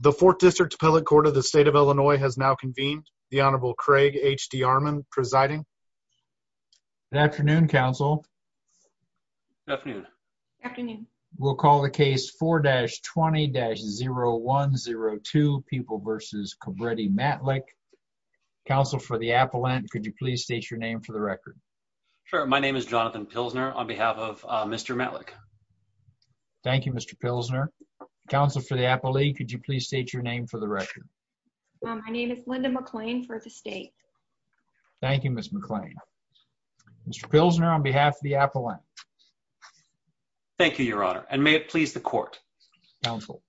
The Fourth District Appellate Court of the State of Illinois has now convened. The Honorable Craig H.D. Armon presiding. Good afternoon, counsel. Good afternoon. Afternoon. We'll call the case 4-20-0102 People v. Kobretti Matlick. Counsel for the appellant, could you please state your name for the record? Sure, my name is Jonathan Pilsner on behalf of Mr. Matlick. Thank you, Mr. Pilsner. Counsel for the appellate, could you please state your name for the record? My name is Linda McClain for the state. Thank you, Ms. McClain. Mr. Pilsner on behalf of the appellant. Thank you, Your Honor, and may it please the court. Counsel.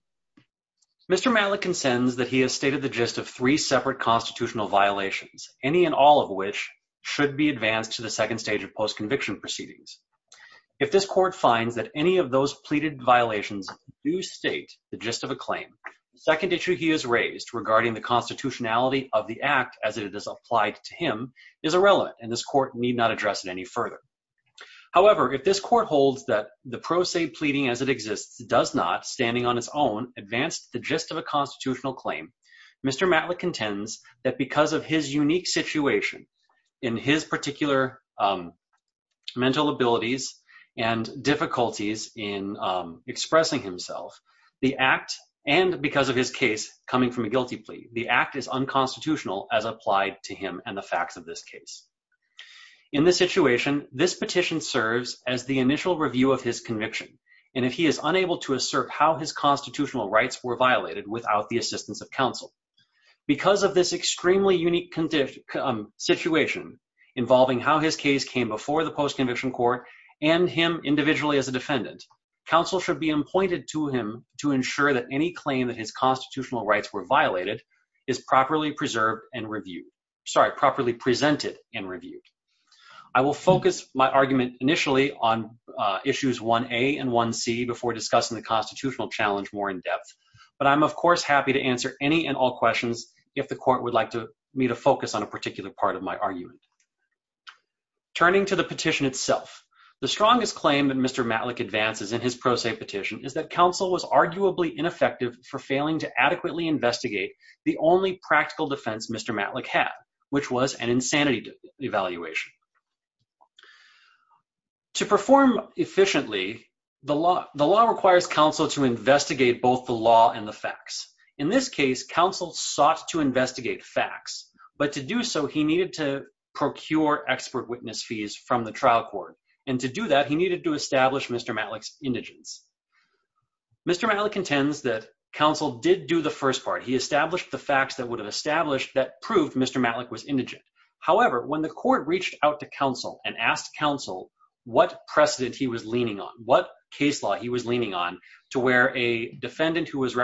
Mr. Matlick consents that he has stated the gist of three separate constitutional violations, any and all of which should be advanced to the second stage of post-conviction proceedings. If this court finds that any of those pleaded violations do state the gist of a claim, the second issue he has raised regarding the constitutionality of the act as it is applied to him is irrelevant, and this court need not address it any further. However, if this court holds that the pro se pleading as it exists does not, standing on its own, advance the gist of a constitutional claim, Mr. Matlick contends that because of his and difficulties in expressing himself, the act, and because of his case coming from a guilty plea, the act is unconstitutional as applied to him and the facts of this case. In this situation, this petition serves as the initial review of his conviction, and if he is unable to assert how his constitutional rights were violated without the assistance of counsel, because of this extremely unique situation involving how his case came before the post-conviction court and him individually as a defendant, counsel should be appointed to him to ensure that any claim that his constitutional rights were violated is properly preserved and reviewed, sorry, properly presented and reviewed. I will focus my argument initially on issues 1a and 1c before discussing the constitutional challenge more in depth, but I'm of course happy to answer any and all questions if the court would me to focus on a particular part of my argument. Turning to the petition itself, the strongest claim that Mr. Matlick advances in his pro se petition is that counsel was arguably ineffective for failing to adequately investigate the only practical defense Mr. Matlick had, which was an insanity evaluation. To perform efficiently, the law requires counsel to investigate facts, but to do so, he needed to procure expert witness fees from the trial court, and to do that, he needed to establish Mr. Matlick's indigence. Mr. Matlick intends that counsel did do the first part. He established the facts that would have established that proved Mr. Matlick was indigent. However, when the court reached out to counsel and asked counsel what precedent he was leaning on, what case law he was leaning on, to where a defendant who was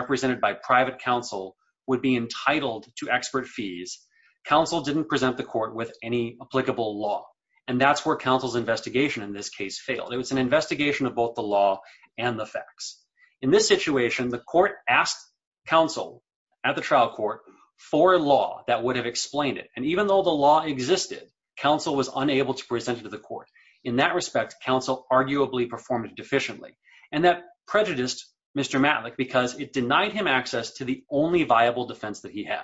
expert fees, counsel didn't present the court with any applicable law, and that's where counsel's investigation in this case failed. It was an investigation of both the law and the facts. In this situation, the court asked counsel at the trial court for law that would have explained it, and even though the law existed, counsel was unable to present it to the court. In that respect, counsel arguably performed it deficiently, and that prejudiced Mr. Matlick because it denied him access to the only viable defense that he had.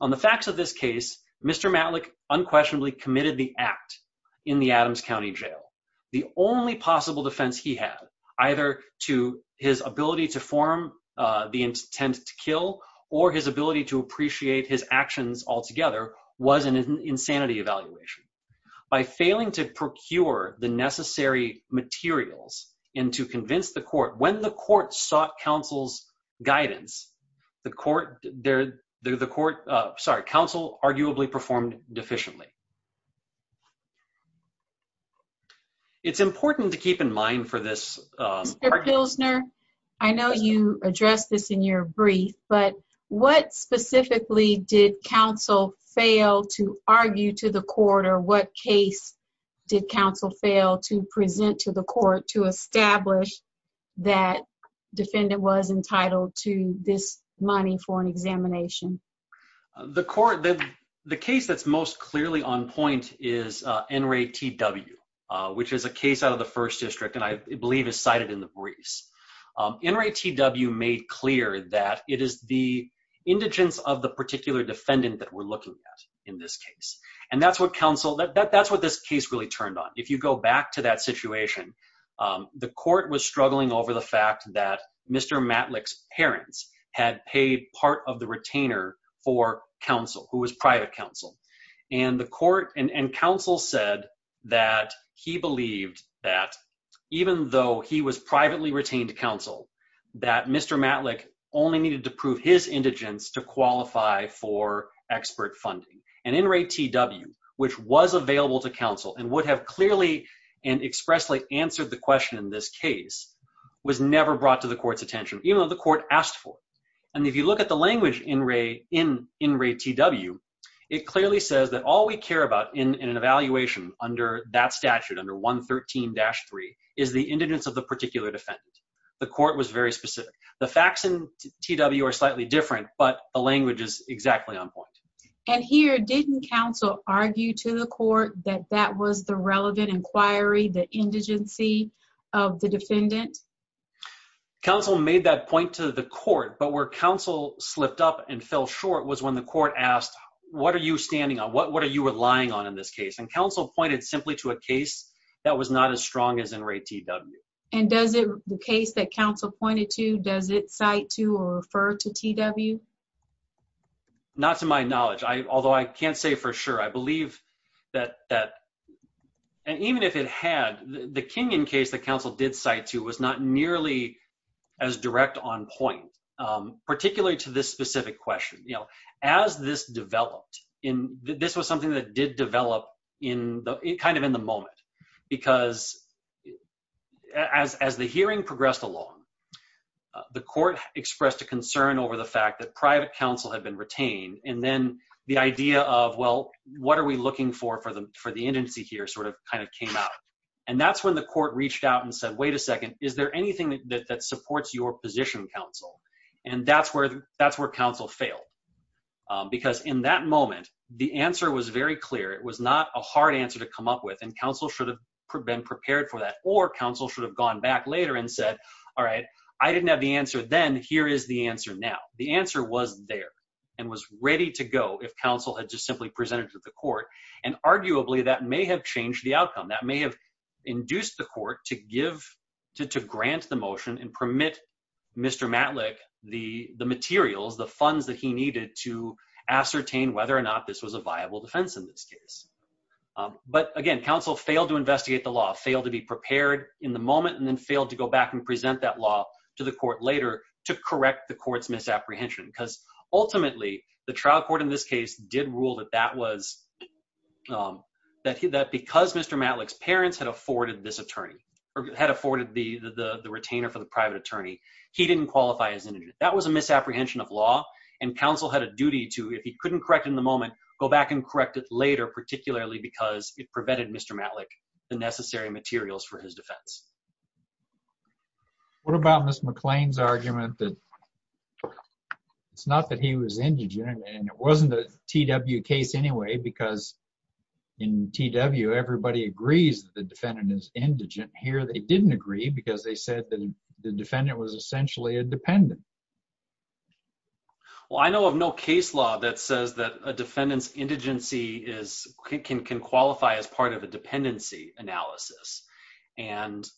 On the facts of this case, Mr. Matlick unquestionably committed the act in the Adams County Jail. The only possible defense he had, either to his ability to form the intent to kill or his ability to appreciate his actions altogether, was an insanity evaluation. By failing to procure the necessary materials and to convince the court, when the court, there, the court, sorry, counsel arguably performed deficiently. It's important to keep in mind for this. Mr. Pilsner, I know you addressed this in your brief, but what specifically did counsel fail to argue to the court, or what case did counsel fail to mine for an examination? The court, the case that's most clearly on point is NRA T.W., which is a case out of the First District, and I believe is cited in the briefs. NRA T.W. made clear that it is the indigence of the particular defendant that we're looking at in this case, and that's what counsel, that's what this case really turned on. If you go back to that of the retainer for counsel, who was private counsel, and the court and counsel said that he believed that even though he was privately retained counsel, that Mr. Matlick only needed to prove his indigence to qualify for expert funding. And NRA T.W., which was available to counsel and would have clearly and expressly answered the question in this case, was never brought to the court's attention, even though the court asked for it. And if you look at the language in NRA T.W., it clearly says that all we care about in an evaluation under that statute, under 113-3, is the indigence of the particular defendant. The court was very specific. The facts in T.W. are slightly different, but the language is exactly on point. And here, didn't counsel argue to the court that that was the relevant inquiry, the indigency of the defendant? Counsel made that point to the court, but where counsel slipped up and fell short was when the court asked, what are you standing on? What are you relying on in this case? And counsel pointed simply to a case that was not as strong as NRA T.W. And does the case that counsel pointed to, does it cite to or refer to T.W.? Not to my knowledge, although I can't say for sure. I believe that, and even if it had, the Kingin case that counsel did cite to was not nearly as direct on point, particularly to this specific question. As this developed, this was something that did develop kind of in the moment, because as the hearing progressed along, the court expressed a concern over the fact that private counsel had been retained, and then the idea of, well, what are we looking for the indigency here sort of kind of came out. And that's when the court reached out and said, wait a second, is there anything that supports your position, counsel? And that's where counsel failed, because in that moment, the answer was very clear. It was not a hard answer to come up with, and counsel should have been prepared for that, or counsel should have gone back later and said, all right, I didn't have the answer then, here is the answer now. The answer was there and was ready to go if counsel had just simply presented to the court, and arguably that may have changed the outcome. That may have induced the court to give, to grant the motion and permit Mr. Matlick the materials, the funds that he needed to ascertain whether or not this was a viable defense in this case. But again, counsel failed to investigate the law, failed to be prepared in the moment, and then failed to go correct the court's misapprehension. Because ultimately, the trial court in this case did rule that that was, that because Mr. Matlick's parents had afforded this attorney, or had afforded the retainer for the private attorney, he didn't qualify as indigent. That was a misapprehension of law, and counsel had a duty to, if he couldn't correct in the moment, go back and correct it later, particularly because it prevented Mr. Matlick the necessary materials for his defense. What about Ms. McClain's argument that it's not that he was indigent, and it wasn't a T.W. case anyway, because in T.W., everybody agrees that the defendant is indigent. Here, they didn't agree because they said that the defendant was essentially a dependent. Well, I know of no case law that says that a defendant's indigency is, can qualify as part of dependency analysis. And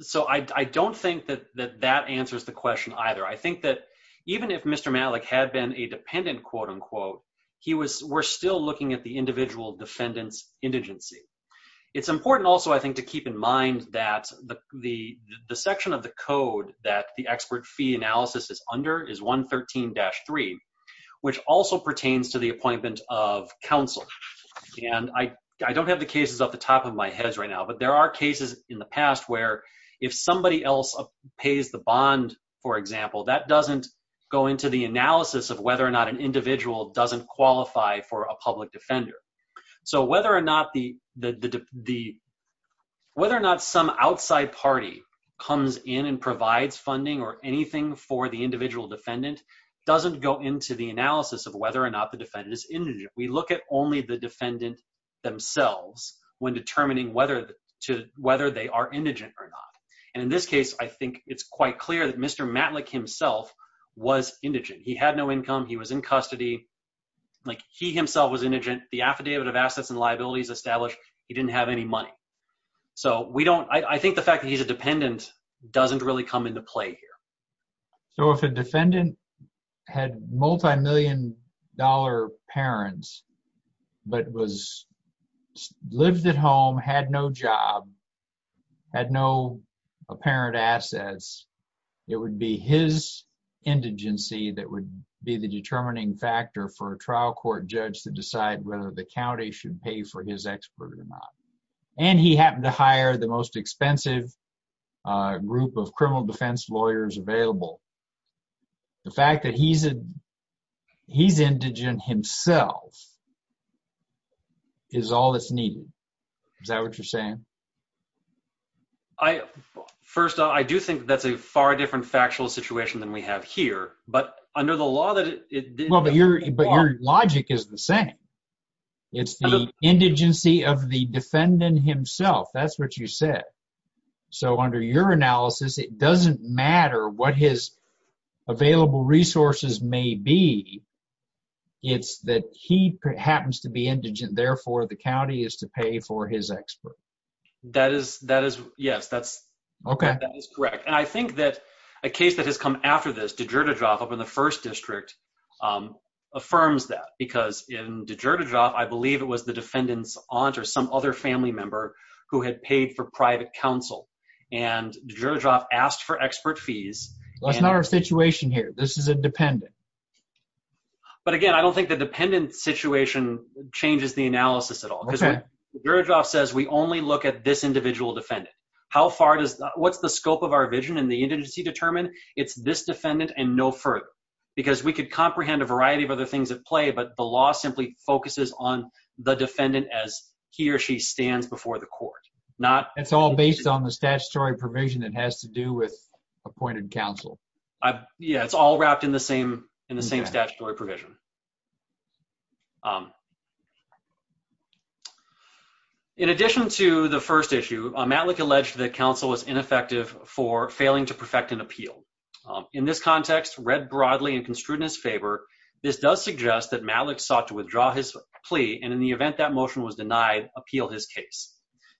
so, I don't think that that answers the question either. I think that even if Mr. Matlick had been a dependent, quote unquote, he was, we're still looking at the individual defendant's indigency. It's important also, I think, to keep in mind that the section of the code that the expert fee analysis is under is 113-3, which also pertains to the appointment of counsel. And I don't have the cases off the top of my head right now, but there are cases in the past where if somebody else pays the bond, for example, that doesn't go into the analysis of whether or not an individual doesn't qualify for a public defender. So, whether or not the, whether or not some outside party comes in and provides funding or anything for the individual defendant, doesn't go into the analysis of whether or not the defendant is indigent. We look at only the defendant themselves when determining whether to, whether they are indigent or not. And in this case, I think it's quite clear that Mr. Matlick himself was indigent. He had no income. He was in custody. Like, he himself was indigent. The affidavit of assets and liabilities established, he didn't have any money. So, we don't, I think the fact that he's indigent doesn't really come into play here. So, if a defendant had multi-million dollar parents, but was, lived at home, had no job, had no apparent assets, it would be his indigency that would be the determining factor for a trial court judge to decide whether the county should pay for his expert or not. And he happened to hire the most expensive group of criminal defense lawyers available. The fact that he's a, he's indigent himself is all that's needed. Is that what you're saying? I, first off, I do think that's a far different factual situation than we have here, but under the law that it... Well, but your, but your logic is the same. It's the indigency of the defendant himself. That's what you said. So, under your analysis, it doesn't matter what his available resources may be. It's that he happens to be indigent. Therefore, the county is to pay for his expert. That is, that is, yes, that's... Okay. That is correct. And I think that a case that has come after this, de Gerdeshoff, up in the first district, affirms that. Because in de Gerdeshoff, I believe it was the defendant's aunt or some other family member who had paid for private counsel. And de Gerdeshoff asked for expert fees. That's not our situation here. This is a dependent. But again, I don't think the dependent situation changes the analysis at all. Okay. Because de Gerdeshoff says we only look at this individual defendant. How far does, what's the it's this defendant and no further. Because we could comprehend a variety of other things at play, but the law simply focuses on the defendant as he or she stands before the court. Not... It's all based on the statutory provision that has to do with appointed counsel. Yeah. It's all wrapped in the same, in the same statutory provision. In addition to the first issue, Matlick alleged that counsel was ineffective for failing to perfect an appeal. In this context, read broadly and construed in his favor, this does suggest that Matlick sought to withdraw his plea. And in the event that motion was denied, appeal his case.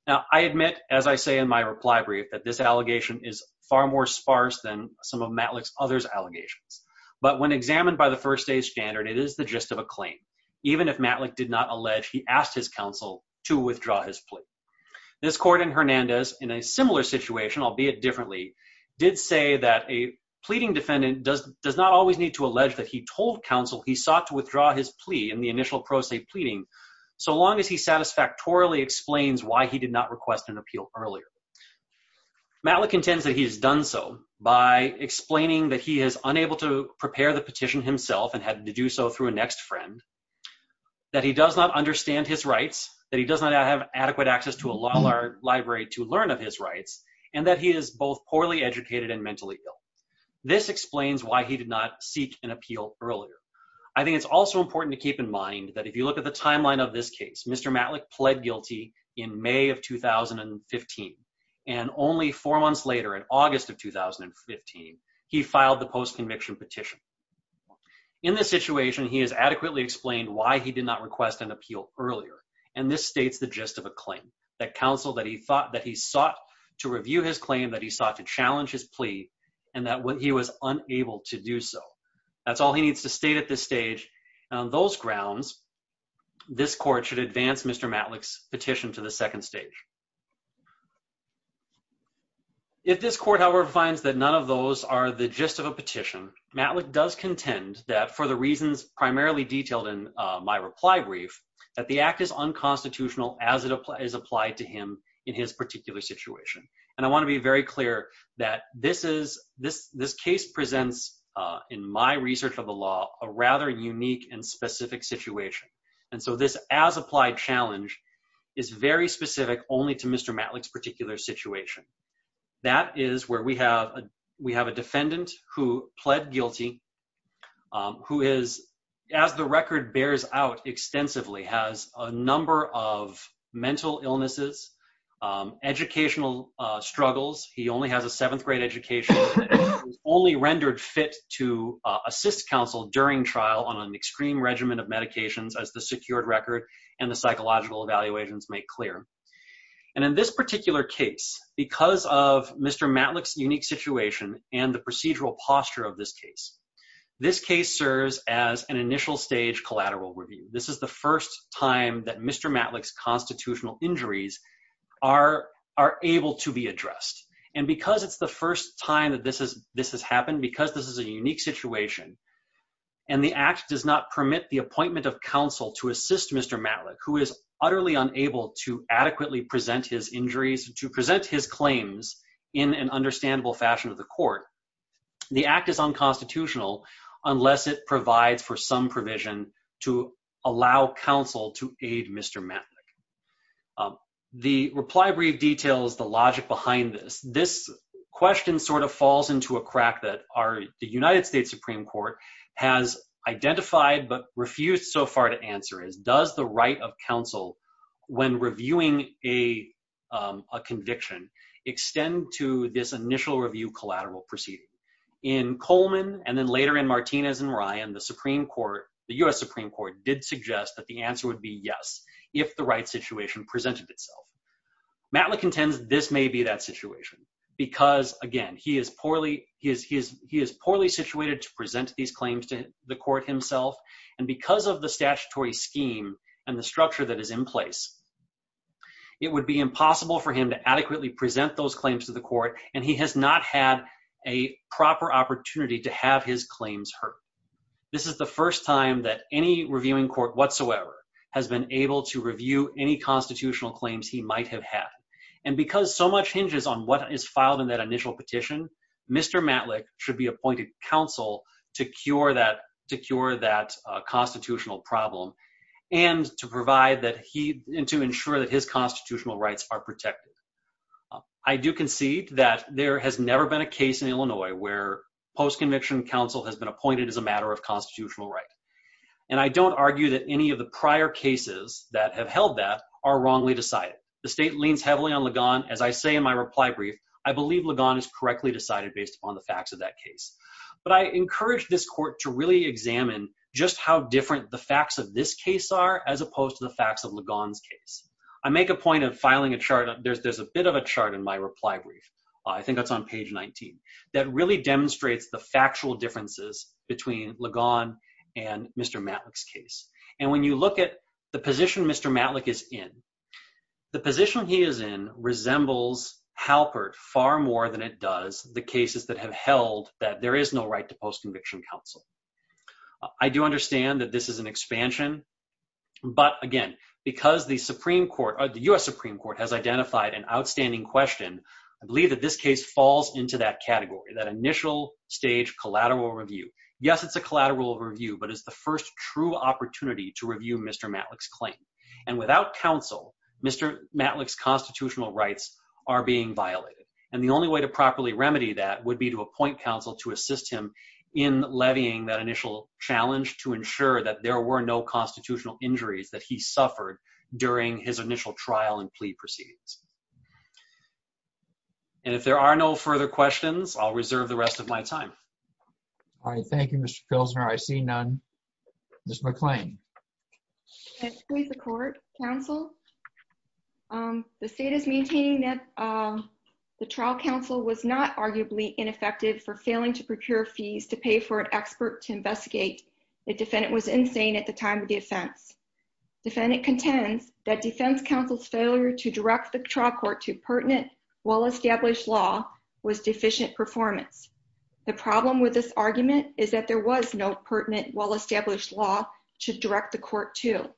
Now I admit, as I say in my reply brief, that this allegation is far more sparse than some of Matlick's others allegations. But when examined by the first day standard, it is the gist of a claim. Even if Matlick did not allege, he asked his counsel to withdraw his plea. This court in Hernandez, in a similar situation, albeit differently, did say that a pleading defendant does not always need to allege that he told counsel he sought to withdraw his plea in the initial pro se pleading, so long as he satisfactorily explains why he did not request an appeal earlier. Matlick intends that he has done so by explaining that he is unable to prepare the petition himself and had to do so through a next friend, that he does not understand his rights, that he does not have adequate access to a law library to learn of his rights, and that he is both poorly educated and mentally ill. This explains why he did not seek an appeal earlier. I think it's also important to keep in mind that if you look at the timeline of this case, Mr. Matlick pled guilty in May of 2015. And only four months later, in August of 2015, he filed the post conviction petition. In this situation, he has adequately explained why he did not request an appeal earlier. And this states the gist of a claim, that counsel that he thought that he sought to review his claim, that he sought to challenge his plea, and that when he was unable to do so. That's all he needs to state at this stage. On those grounds, this court should advance Mr. Matlick's petition to the second stage. If this court, however, finds that none of those are the gist of a petition, Matlick does contend that for the reasons primarily detailed in my reply brief, that the act is unconstitutional as it is applied to him in his particular situation. And I want to be very clear that this case presents, in my research of the law, a rather unique and specific situation. And so this as applied challenge is very specific only to Mr. Matlick's particular situation. That is where we have a defendant who pled guilty, who is, as the record bears out extensively, has a number of mental illnesses, educational struggles. He only has a seventh grade education, only rendered fit to assist counsel during trial on an extreme regimen of medications as the secured record and the psychological evaluations make clear. And in this particular case, because of Mr. Matlick's unique situation and the procedural and initial stage collateral review, this is the first time that Mr. Matlick's constitutional injuries are able to be addressed. And because it's the first time that this has happened, because this is a unique situation and the act does not permit the appointment of counsel to assist Mr. Matlick, who is utterly unable to adequately present his injuries, to present his claims in an understandable fashion of the court, the act is unconstitutional unless it provides for some provision to allow counsel to aid Mr. Matlick. The reply brief details the logic behind this. This question sort of falls into a crack that the United States Supreme Court has identified, but refused so far to answer is, does the right of counsel when reviewing a conviction extend to this initial review collateral proceeding? In Coleman and then later in Martinez and Ryan, the Supreme Court, the U.S. Supreme Court did suggest that the answer would be yes, if the right situation presented itself. Matlick intends this may be that situation, because again, he is poorly, he is, he is, he is poorly situated to present these claims to the court himself. And because of the statutory scheme and the structure that is in place, it would be impossible for him to adequately present those claims to the court. And he has not had a proper opportunity to have his claims heard. This is the first time that any reviewing court whatsoever has been able to review any constitutional claims he might have had. And because so much hinges on what is filed in that initial petition, Mr. Matlick should be appointed counsel to cure that, to cure that constitutional problem and to provide that he, and to ensure that his constitutional rights are protected. I do concede that there has never been a case in Illinois where post-conviction counsel has been appointed as a matter of constitutional right. And I don't argue that any of the prior cases that have held that are wrongly decided. The state leans heavily on Ligon. As I say, in my reply brief, I believe Ligon is correctly decided based upon the facts of that case. But I encourage this court to really examine just how different the facts of this case are, as opposed to the facts of Ligon's case. I make a point of filing a chart. There's, there's a bit of a chart in my reply brief. I think that's on page 19 that really demonstrates the factual differences between Ligon and Mr. Matlick's case. And when you look at the position Mr. Matlick is in, the position he is in resembles Halpert far more than it does the cases that have held that there is no right to post-conviction counsel. I do understand that this is an expansion, but again, because the Supreme Court, the U.S. Supreme Court has identified an outstanding question, I believe that this case falls into that category, that initial stage collateral review. Yes, it's a collateral review, but it's the first true opportunity to review Mr. Matlick's claim. And without counsel, Mr. Matlick's constitutional rights are being violated. And the only way to properly remedy that would be to appoint counsel to assist him in levying that initial challenge to ensure that there were no constitutional injuries that he suffered during his initial trial and plea proceedings. And if there are no further questions, I'll reserve the rest of my time. All right. Thank you, Mr. Pilsner. I see none. Ms. McClain. Can I speak to the court, counsel? The state is maintaining that the trial counsel was not arguably ineffective for failing to procure fees to pay for an expert to investigate the defendant was insane at the time of the offense. Defendant contends that defense counsel's failure to direct the trial court to pertinent well-established law was deficient performance. The problem with this argument is that there was no pertinent well-established law to direct the court to.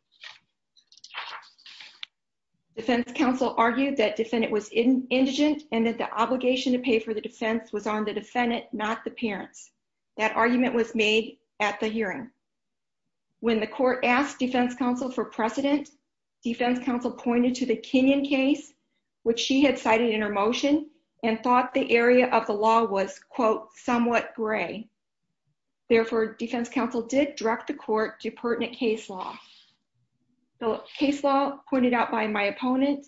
Defense counsel argued that defendant was indigent and that the obligation to pay for the defense was on the defendant, not the parents. That argument was made at the hearing. When the court asked defense counsel for precedent, defense counsel pointed to the Kenyon case, which she had cited in her motion and thought the area of the law was, quote, somewhat gray. Therefore, defense counsel did direct the court to pertinent case law. The case law pointed out by my opponent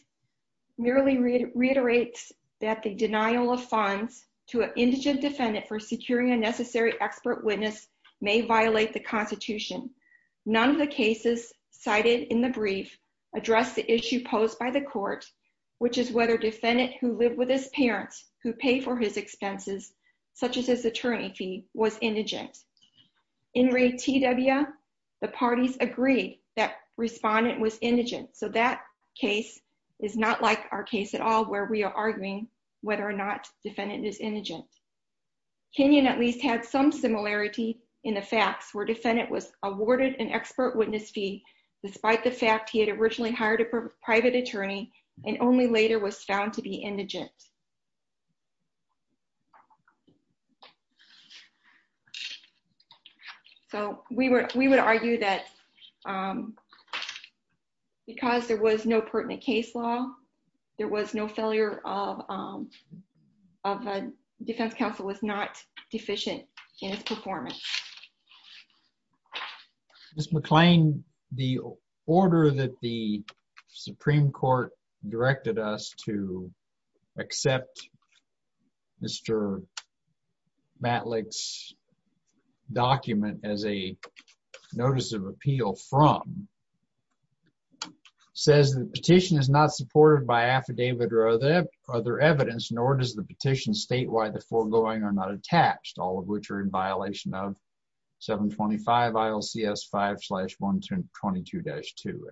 merely reiterates that the denial of funds to an indigent defendant for securing a necessary expert witness may violate the Constitution. None of the cases cited in the brief address the issue posed by the court, which is whether defendant who lived with his parents who pay for his expenses, such as his attorney fee, was indigent. In Ray T.W., the parties agreed that respondent was indigent. So that case is not like our case at all where we are arguing whether or not defendant is indigent. Kenyon at least had some similarity in the facts where defendant was awarded an expert witness fee despite the fact he had originally hired a private attorney and only later was found to be indigent. So we would argue that because there was no pertinent case law, there was no failure of defense counsel was not deficient in its performance. Mr. McClain, the order that the Supreme Court directed us to accept Mr. Matlick's document as a notice of appeal from says the petition is not supported by affidavit or other evidence, nor does the petition state the foregoing are not attached, all of which are in violation of 725 ILCS 5-122-2.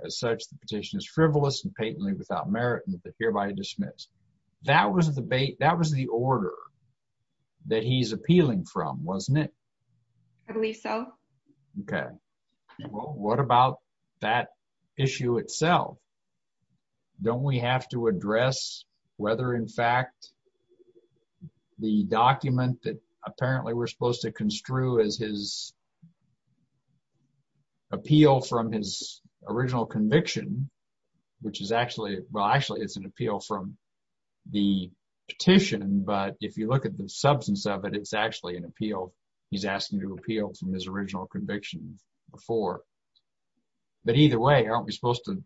As such, the petition is frivolous and patently without merit and hereby dismissed. That was the order that he's appealing from, wasn't it? I believe so. Okay. Well, what about that issue itself? Don't we have to address whether, in fact, the document that apparently we're supposed to construe as his appeal from his original conviction, which is actually, well, actually it's an appeal from the petition, but if you look at the substance of it, it's actually an appeal. He's asking to appeal from his original conviction before. But either way, aren't we supposed to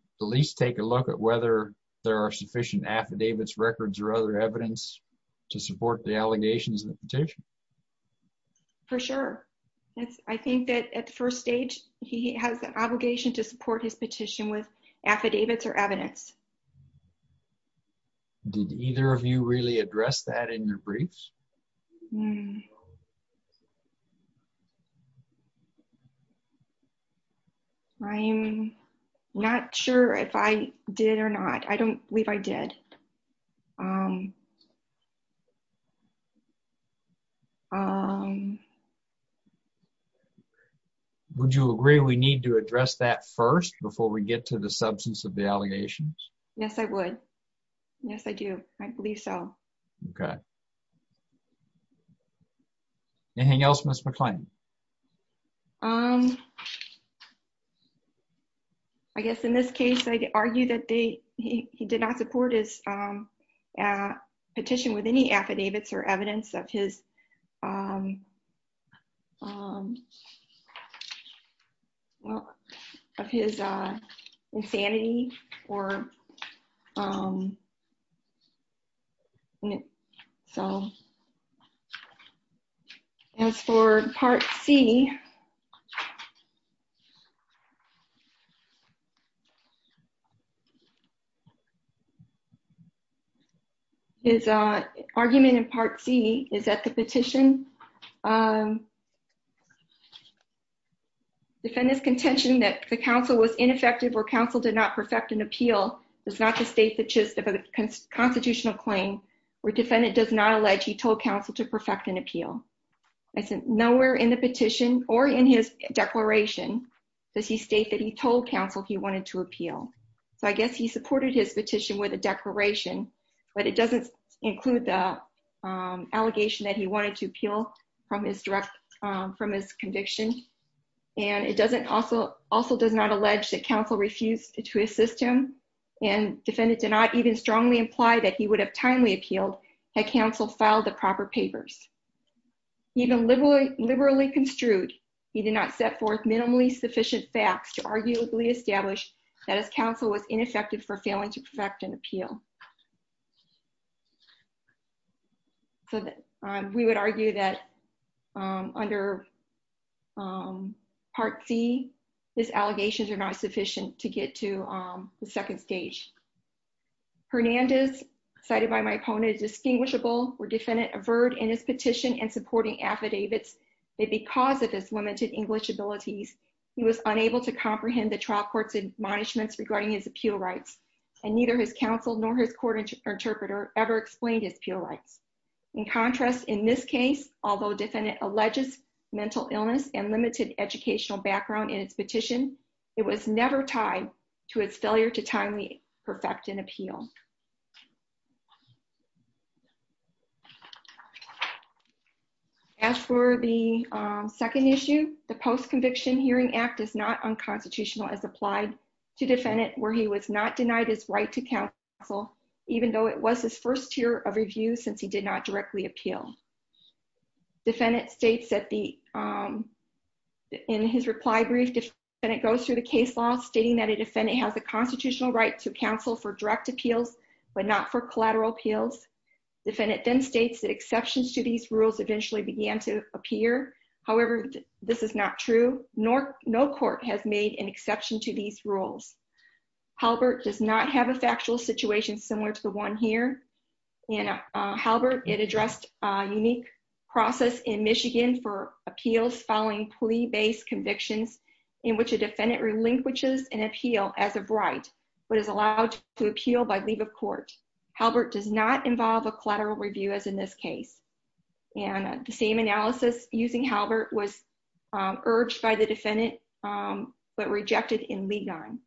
take a look at whether there are sufficient affidavits, records, or other evidence to support the allegations in the petition? For sure. I think that at the first stage, he has the obligation to support his petition with affidavits or evidence. Did either of you really address that in your briefs? I'm not sure if I did or not. I don't believe I did. Would you agree we need to address that first before we get to the substance of the allegations? Yes, I would. Yes, I do. I believe so. Okay. Anything else, Ms. McClain? I guess in this case, I'd argue that he did not support his petition with any affidavits or evidence of his insanity. As for Part C, his argument in Part C is that the petition, defendant's contention that the counsel was ineffective or counsel did not perfect an appeal is not to state the gist of a constitutional claim where defendant does not allege he told counsel to perfect an appeal. Nowhere in the petition or in his declaration does he state that he told counsel he wanted to appeal. I guess he supported his petition with a declaration, but it doesn't include the allegation that he wanted to appeal from his conviction. It also does not allege that counsel refused to assist him and defendant did not even strongly imply that he would have timely appealed had counsel filed the proper papers. Even liberally construed, he did not set forth minimally sufficient facts to arguably establish that his counsel was ineffective for failing to perfect an appeal. So we would argue that under Part C, his allegations are not sufficient to get to the second stage. Hernandez, cited by my opponent, is distinguishable where defendant averred in his petition and supporting affidavits that because of his limited English abilities, he was unable to comprehend the trial court's admonishments regarding his appeal rights and neither his counsel nor his court interpreter ever explained his appeal rights. In contrast, in this case, although defendant alleges mental illness and limited educational background in its petition, it was never tied to its failure to timely perfect an appeal. As for the second issue, the post-conviction hearing act is not unconstitutional as applied to defendant where he was not denied his right to counsel, even though it was his first year of review since he did not directly appeal. Defendant states that in his reply brief, it goes through the case law stating that a defendant has a constitutional right to counsel for direct appeals but not for collateral appeals. Defendant then states that exceptions to these rules eventually began to appear. However, this is not true. No court has made an exception to these rules. Halbert does not have a factual situation similar to the one here. In Halbert, it addressed a unique process in Michigan for appeals following plea-based convictions in which a defendant relinquishes an appeal as of right but is allowed to appeal by leave of court. Halbert does not involve a collateral review as in this case. And the same analysis using Halbert was urged by the defendant but rejected in Ligon.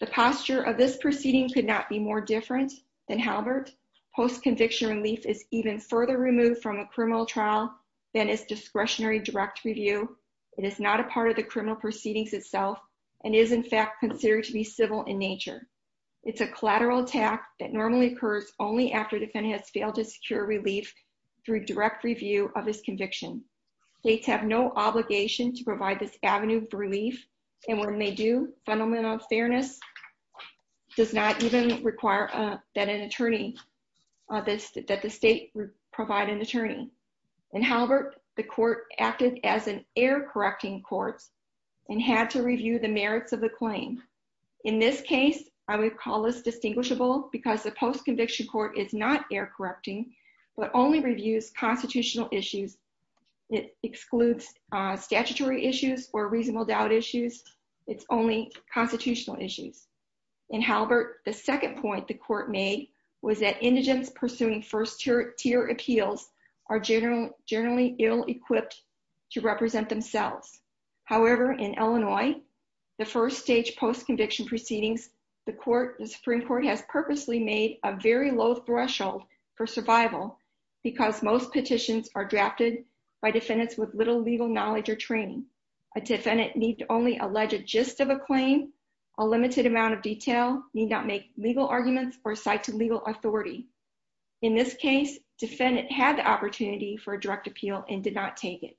The posture of this proceeding could not be more different than Halbert. Post-conviction relief is even further removed from a criminal trial than is discretionary direct review. It is not a part of the criminal proceedings itself and is in fact considered to be civil in nature. It's a collateral attack that normally occurs only after defendant has failed to secure relief through direct review of his conviction. States have no obligation to provide this avenue for relief. And when they do, fundamental fairness does not even require that an attorney, that the state provide an attorney. In Halbert, the court acted as an error-correcting court and had to review the merits of the claim. In this case, I would call this distinguishable because the post-conviction court is not error-correcting but only reviews constitutional issues. It excludes statutory issues or reasonable doubt issues. It's only constitutional issues. In Halbert, the second point the court made was that indigents pursuing first-tier appeals are generally ill-equipped to represent themselves. However, in Illinois, the first stage post-conviction proceedings, the Supreme Court has purposely made a very low threshold for survival because most petitions are drafted by defendants with little legal knowledge or training. A defendant need only allege a gist of a claim, a limited amount of detail, need not make legal arguments, or cite to legal authority. In this case, defendant had the opportunity for a direct appeal and did not take it.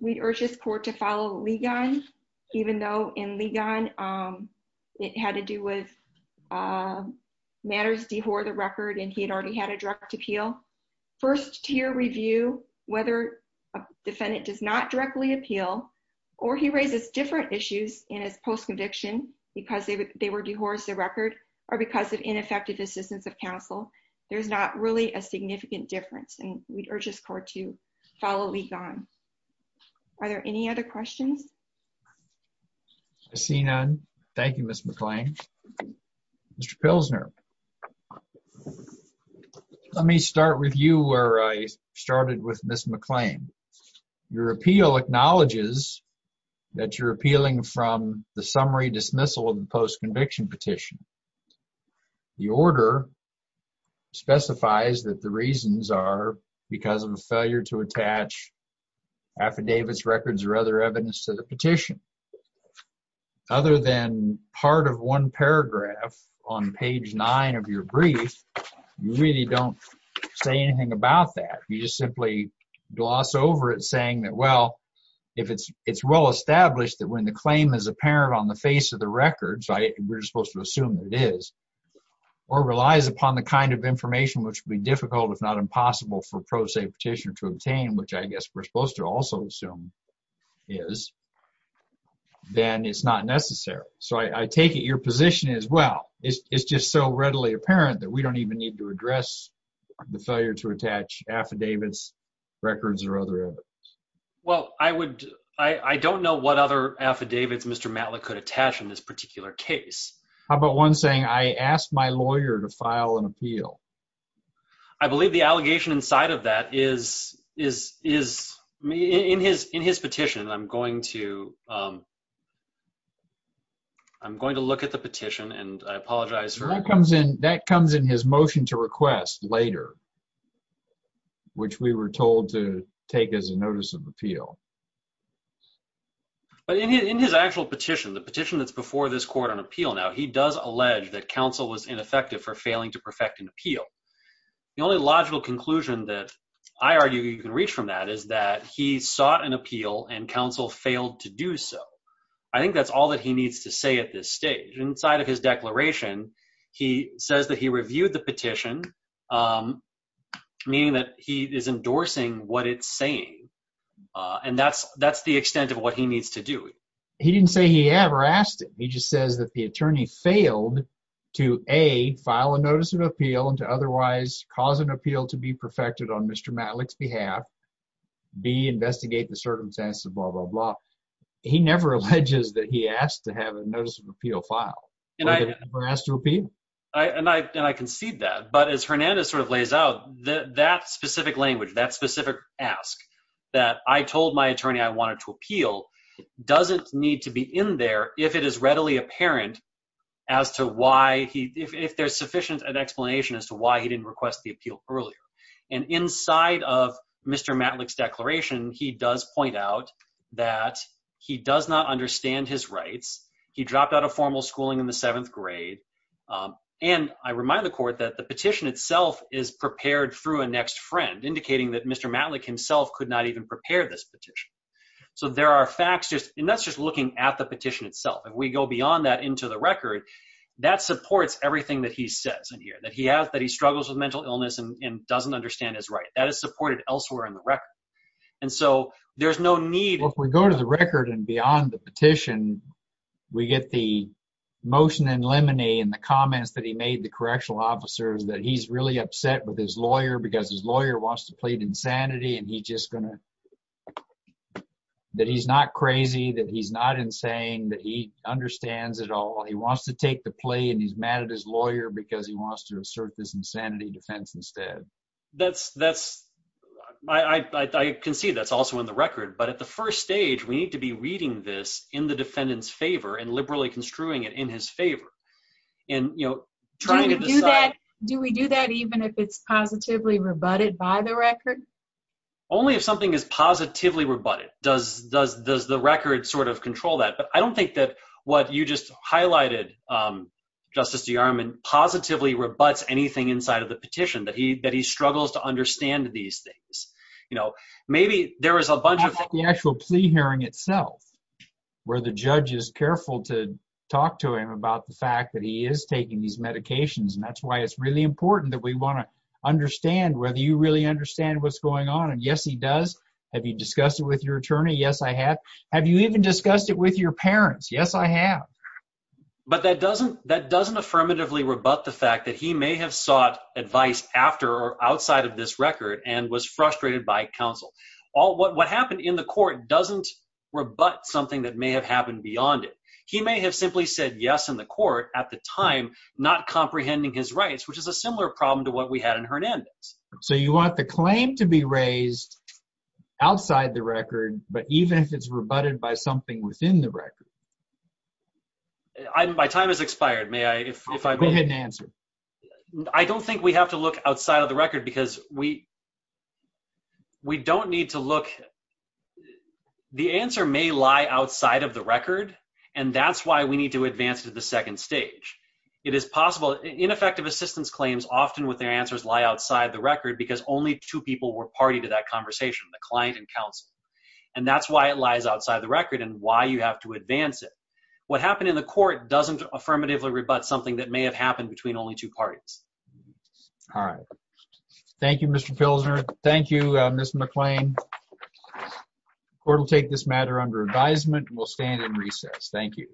We urge this court to follow Ligon, even though in Ligon, it had to do with matters dehor the record and he had already had a direct appeal. First-tier review, whether a defendant does not directly appeal or he raises different issues in his post-conviction because they were dehors the record or because of ineffective assistance of counsel, there's not really a significant difference and we urge this court to follow Ligon. Are there any other questions? I see none. Thank you, Ms. McClain. Mr. Pilsner, let me start with you where I started with Ms. McClain. Your appeal acknowledges that you're appealing from the summary dismissal of the post-conviction petition. The order specifies that the reasons are because of a failure to attach affidavits, records, or other evidence to the petition. Other than part of one paragraph on page nine of your brief, you really don't say anything about that. You just simply gloss over it saying that, well, if it's well-established that when the claim is apparent on the face of the records, we're supposed to assume it is, or relies upon the kind of information which would be difficult, if not impossible, for pro se petitioner to obtain, which I guess we're supposed to also assume is, then it's not necessary. So I take it your position is, well, it's just so readily apparent that we don't even need to address the failure to attach affidavits, records, or other evidence. Well, I don't know what other affidavits Mr. Matlock could attach in this particular case. How about one saying, I asked my lawyer to file an appeal? I believe the allegation inside of that is, in his petition, I'm going to look at the petition and I apologize for that. That comes in his motion to request later, which we were told to take as a notice of appeal. But in his actual petition, the petition that's before this court on appeal now, he does allege that counsel was ineffective for failing to perfect an appeal. The only logical conclusion that I argue you can reach from that is that he sought an appeal and counsel failed to do so. I think that's all that he needs to say at this stage. Inside of his declaration, he says that he reviewed the petition, meaning that he is endorsing what it's saying. That's the extent of what he needs to do. He didn't say he ever asked it. He just says that the attorney failed to, A, file a notice of appeal and to otherwise cause an appeal to be perfected on Mr. Matlock's behalf, B, investigate the circumstances, blah, blah, blah. He never alleges that he asked to have a notice of appeal. As Hernandez sort of lays out, that specific language, that specific ask, that I told my attorney I wanted to appeal, doesn't need to be in there if it is readily apparent as to why he, if there's sufficient explanation as to why he didn't request the appeal earlier. And inside of Mr. Matlock's declaration, he does point out that he does not understand his rights. He dropped out of formal schooling in the seventh grade. And I remind the court that the petition itself is prepared through a next friend, indicating that Mr. Matlock himself could not even prepare this petition. So there are facts just, and that's just looking at the petition itself. If we go beyond that into the record, that supports everything that he says in here, that he has, that he struggles with mental illness and doesn't understand his rights. That is supported elsewhere in the record. And so there's no need- Well, if we go to the record and beyond the petition, we get the motion in limine in the comments that he made the correctional officers, that he's really upset with his lawyer because his lawyer wants to plead insanity. And he just gonna, that he's not crazy, that he's not insane, that he understands it all. He wants to take the plea and he's mad at his lawyer because he wants to assert this insanity defense instead. That's, I can see that's also in the record, but at the first stage, we need to be reading this in the defendant's favor and liberally construing it in his favor and trying to decide- Do we do that even if it's positively rebutted by the record? Only if something is positively rebutted, does the record sort of control that. But I don't think that what you just highlighted, Justice DeArmond, positively rebuts anything inside of the petition, that he struggles to understand these things. Maybe there is a bunch of- The actual plea hearing itself, where the judge is careful to talk to him about the fact that he is taking these medications. And that's why it's really important that we want to understand whether you really understand what's going on. And yes, he does. Have you discussed it with your attorney? Yes, I have. Have you even discussed it with your parents? Yes, I have. But that doesn't, that doesn't affirmatively rebut the fact that he may have sought advice after or outside of this record and was frustrated by counsel. What happened in the court doesn't rebut something that may have happened beyond it. He may have simply said yes in the court at the time, not comprehending his rights, which is a similar problem to what we had in Hernandez. So you want the claim to be raised outside the record, but even if it's rebutted by something within the record? My time has expired. May I, if I- Go ahead and answer. I don't think we have to look outside of the record because we, we don't need to look. The answer may lie outside of the record and that's why we need to advance to the second stage. It is possible, ineffective assistance claims often with their answers lie outside the record because only two people were party to that conversation, the client and counsel. And that's why it lies outside the record and why you have to advance it. What happened in the court doesn't affirmatively rebut something that may have happened between only two parties. All right. Thank you, Mr. Pilsner. Thank you, Ms. McClain. Court will take this matter under advisement. We'll stand in recess. Thank you.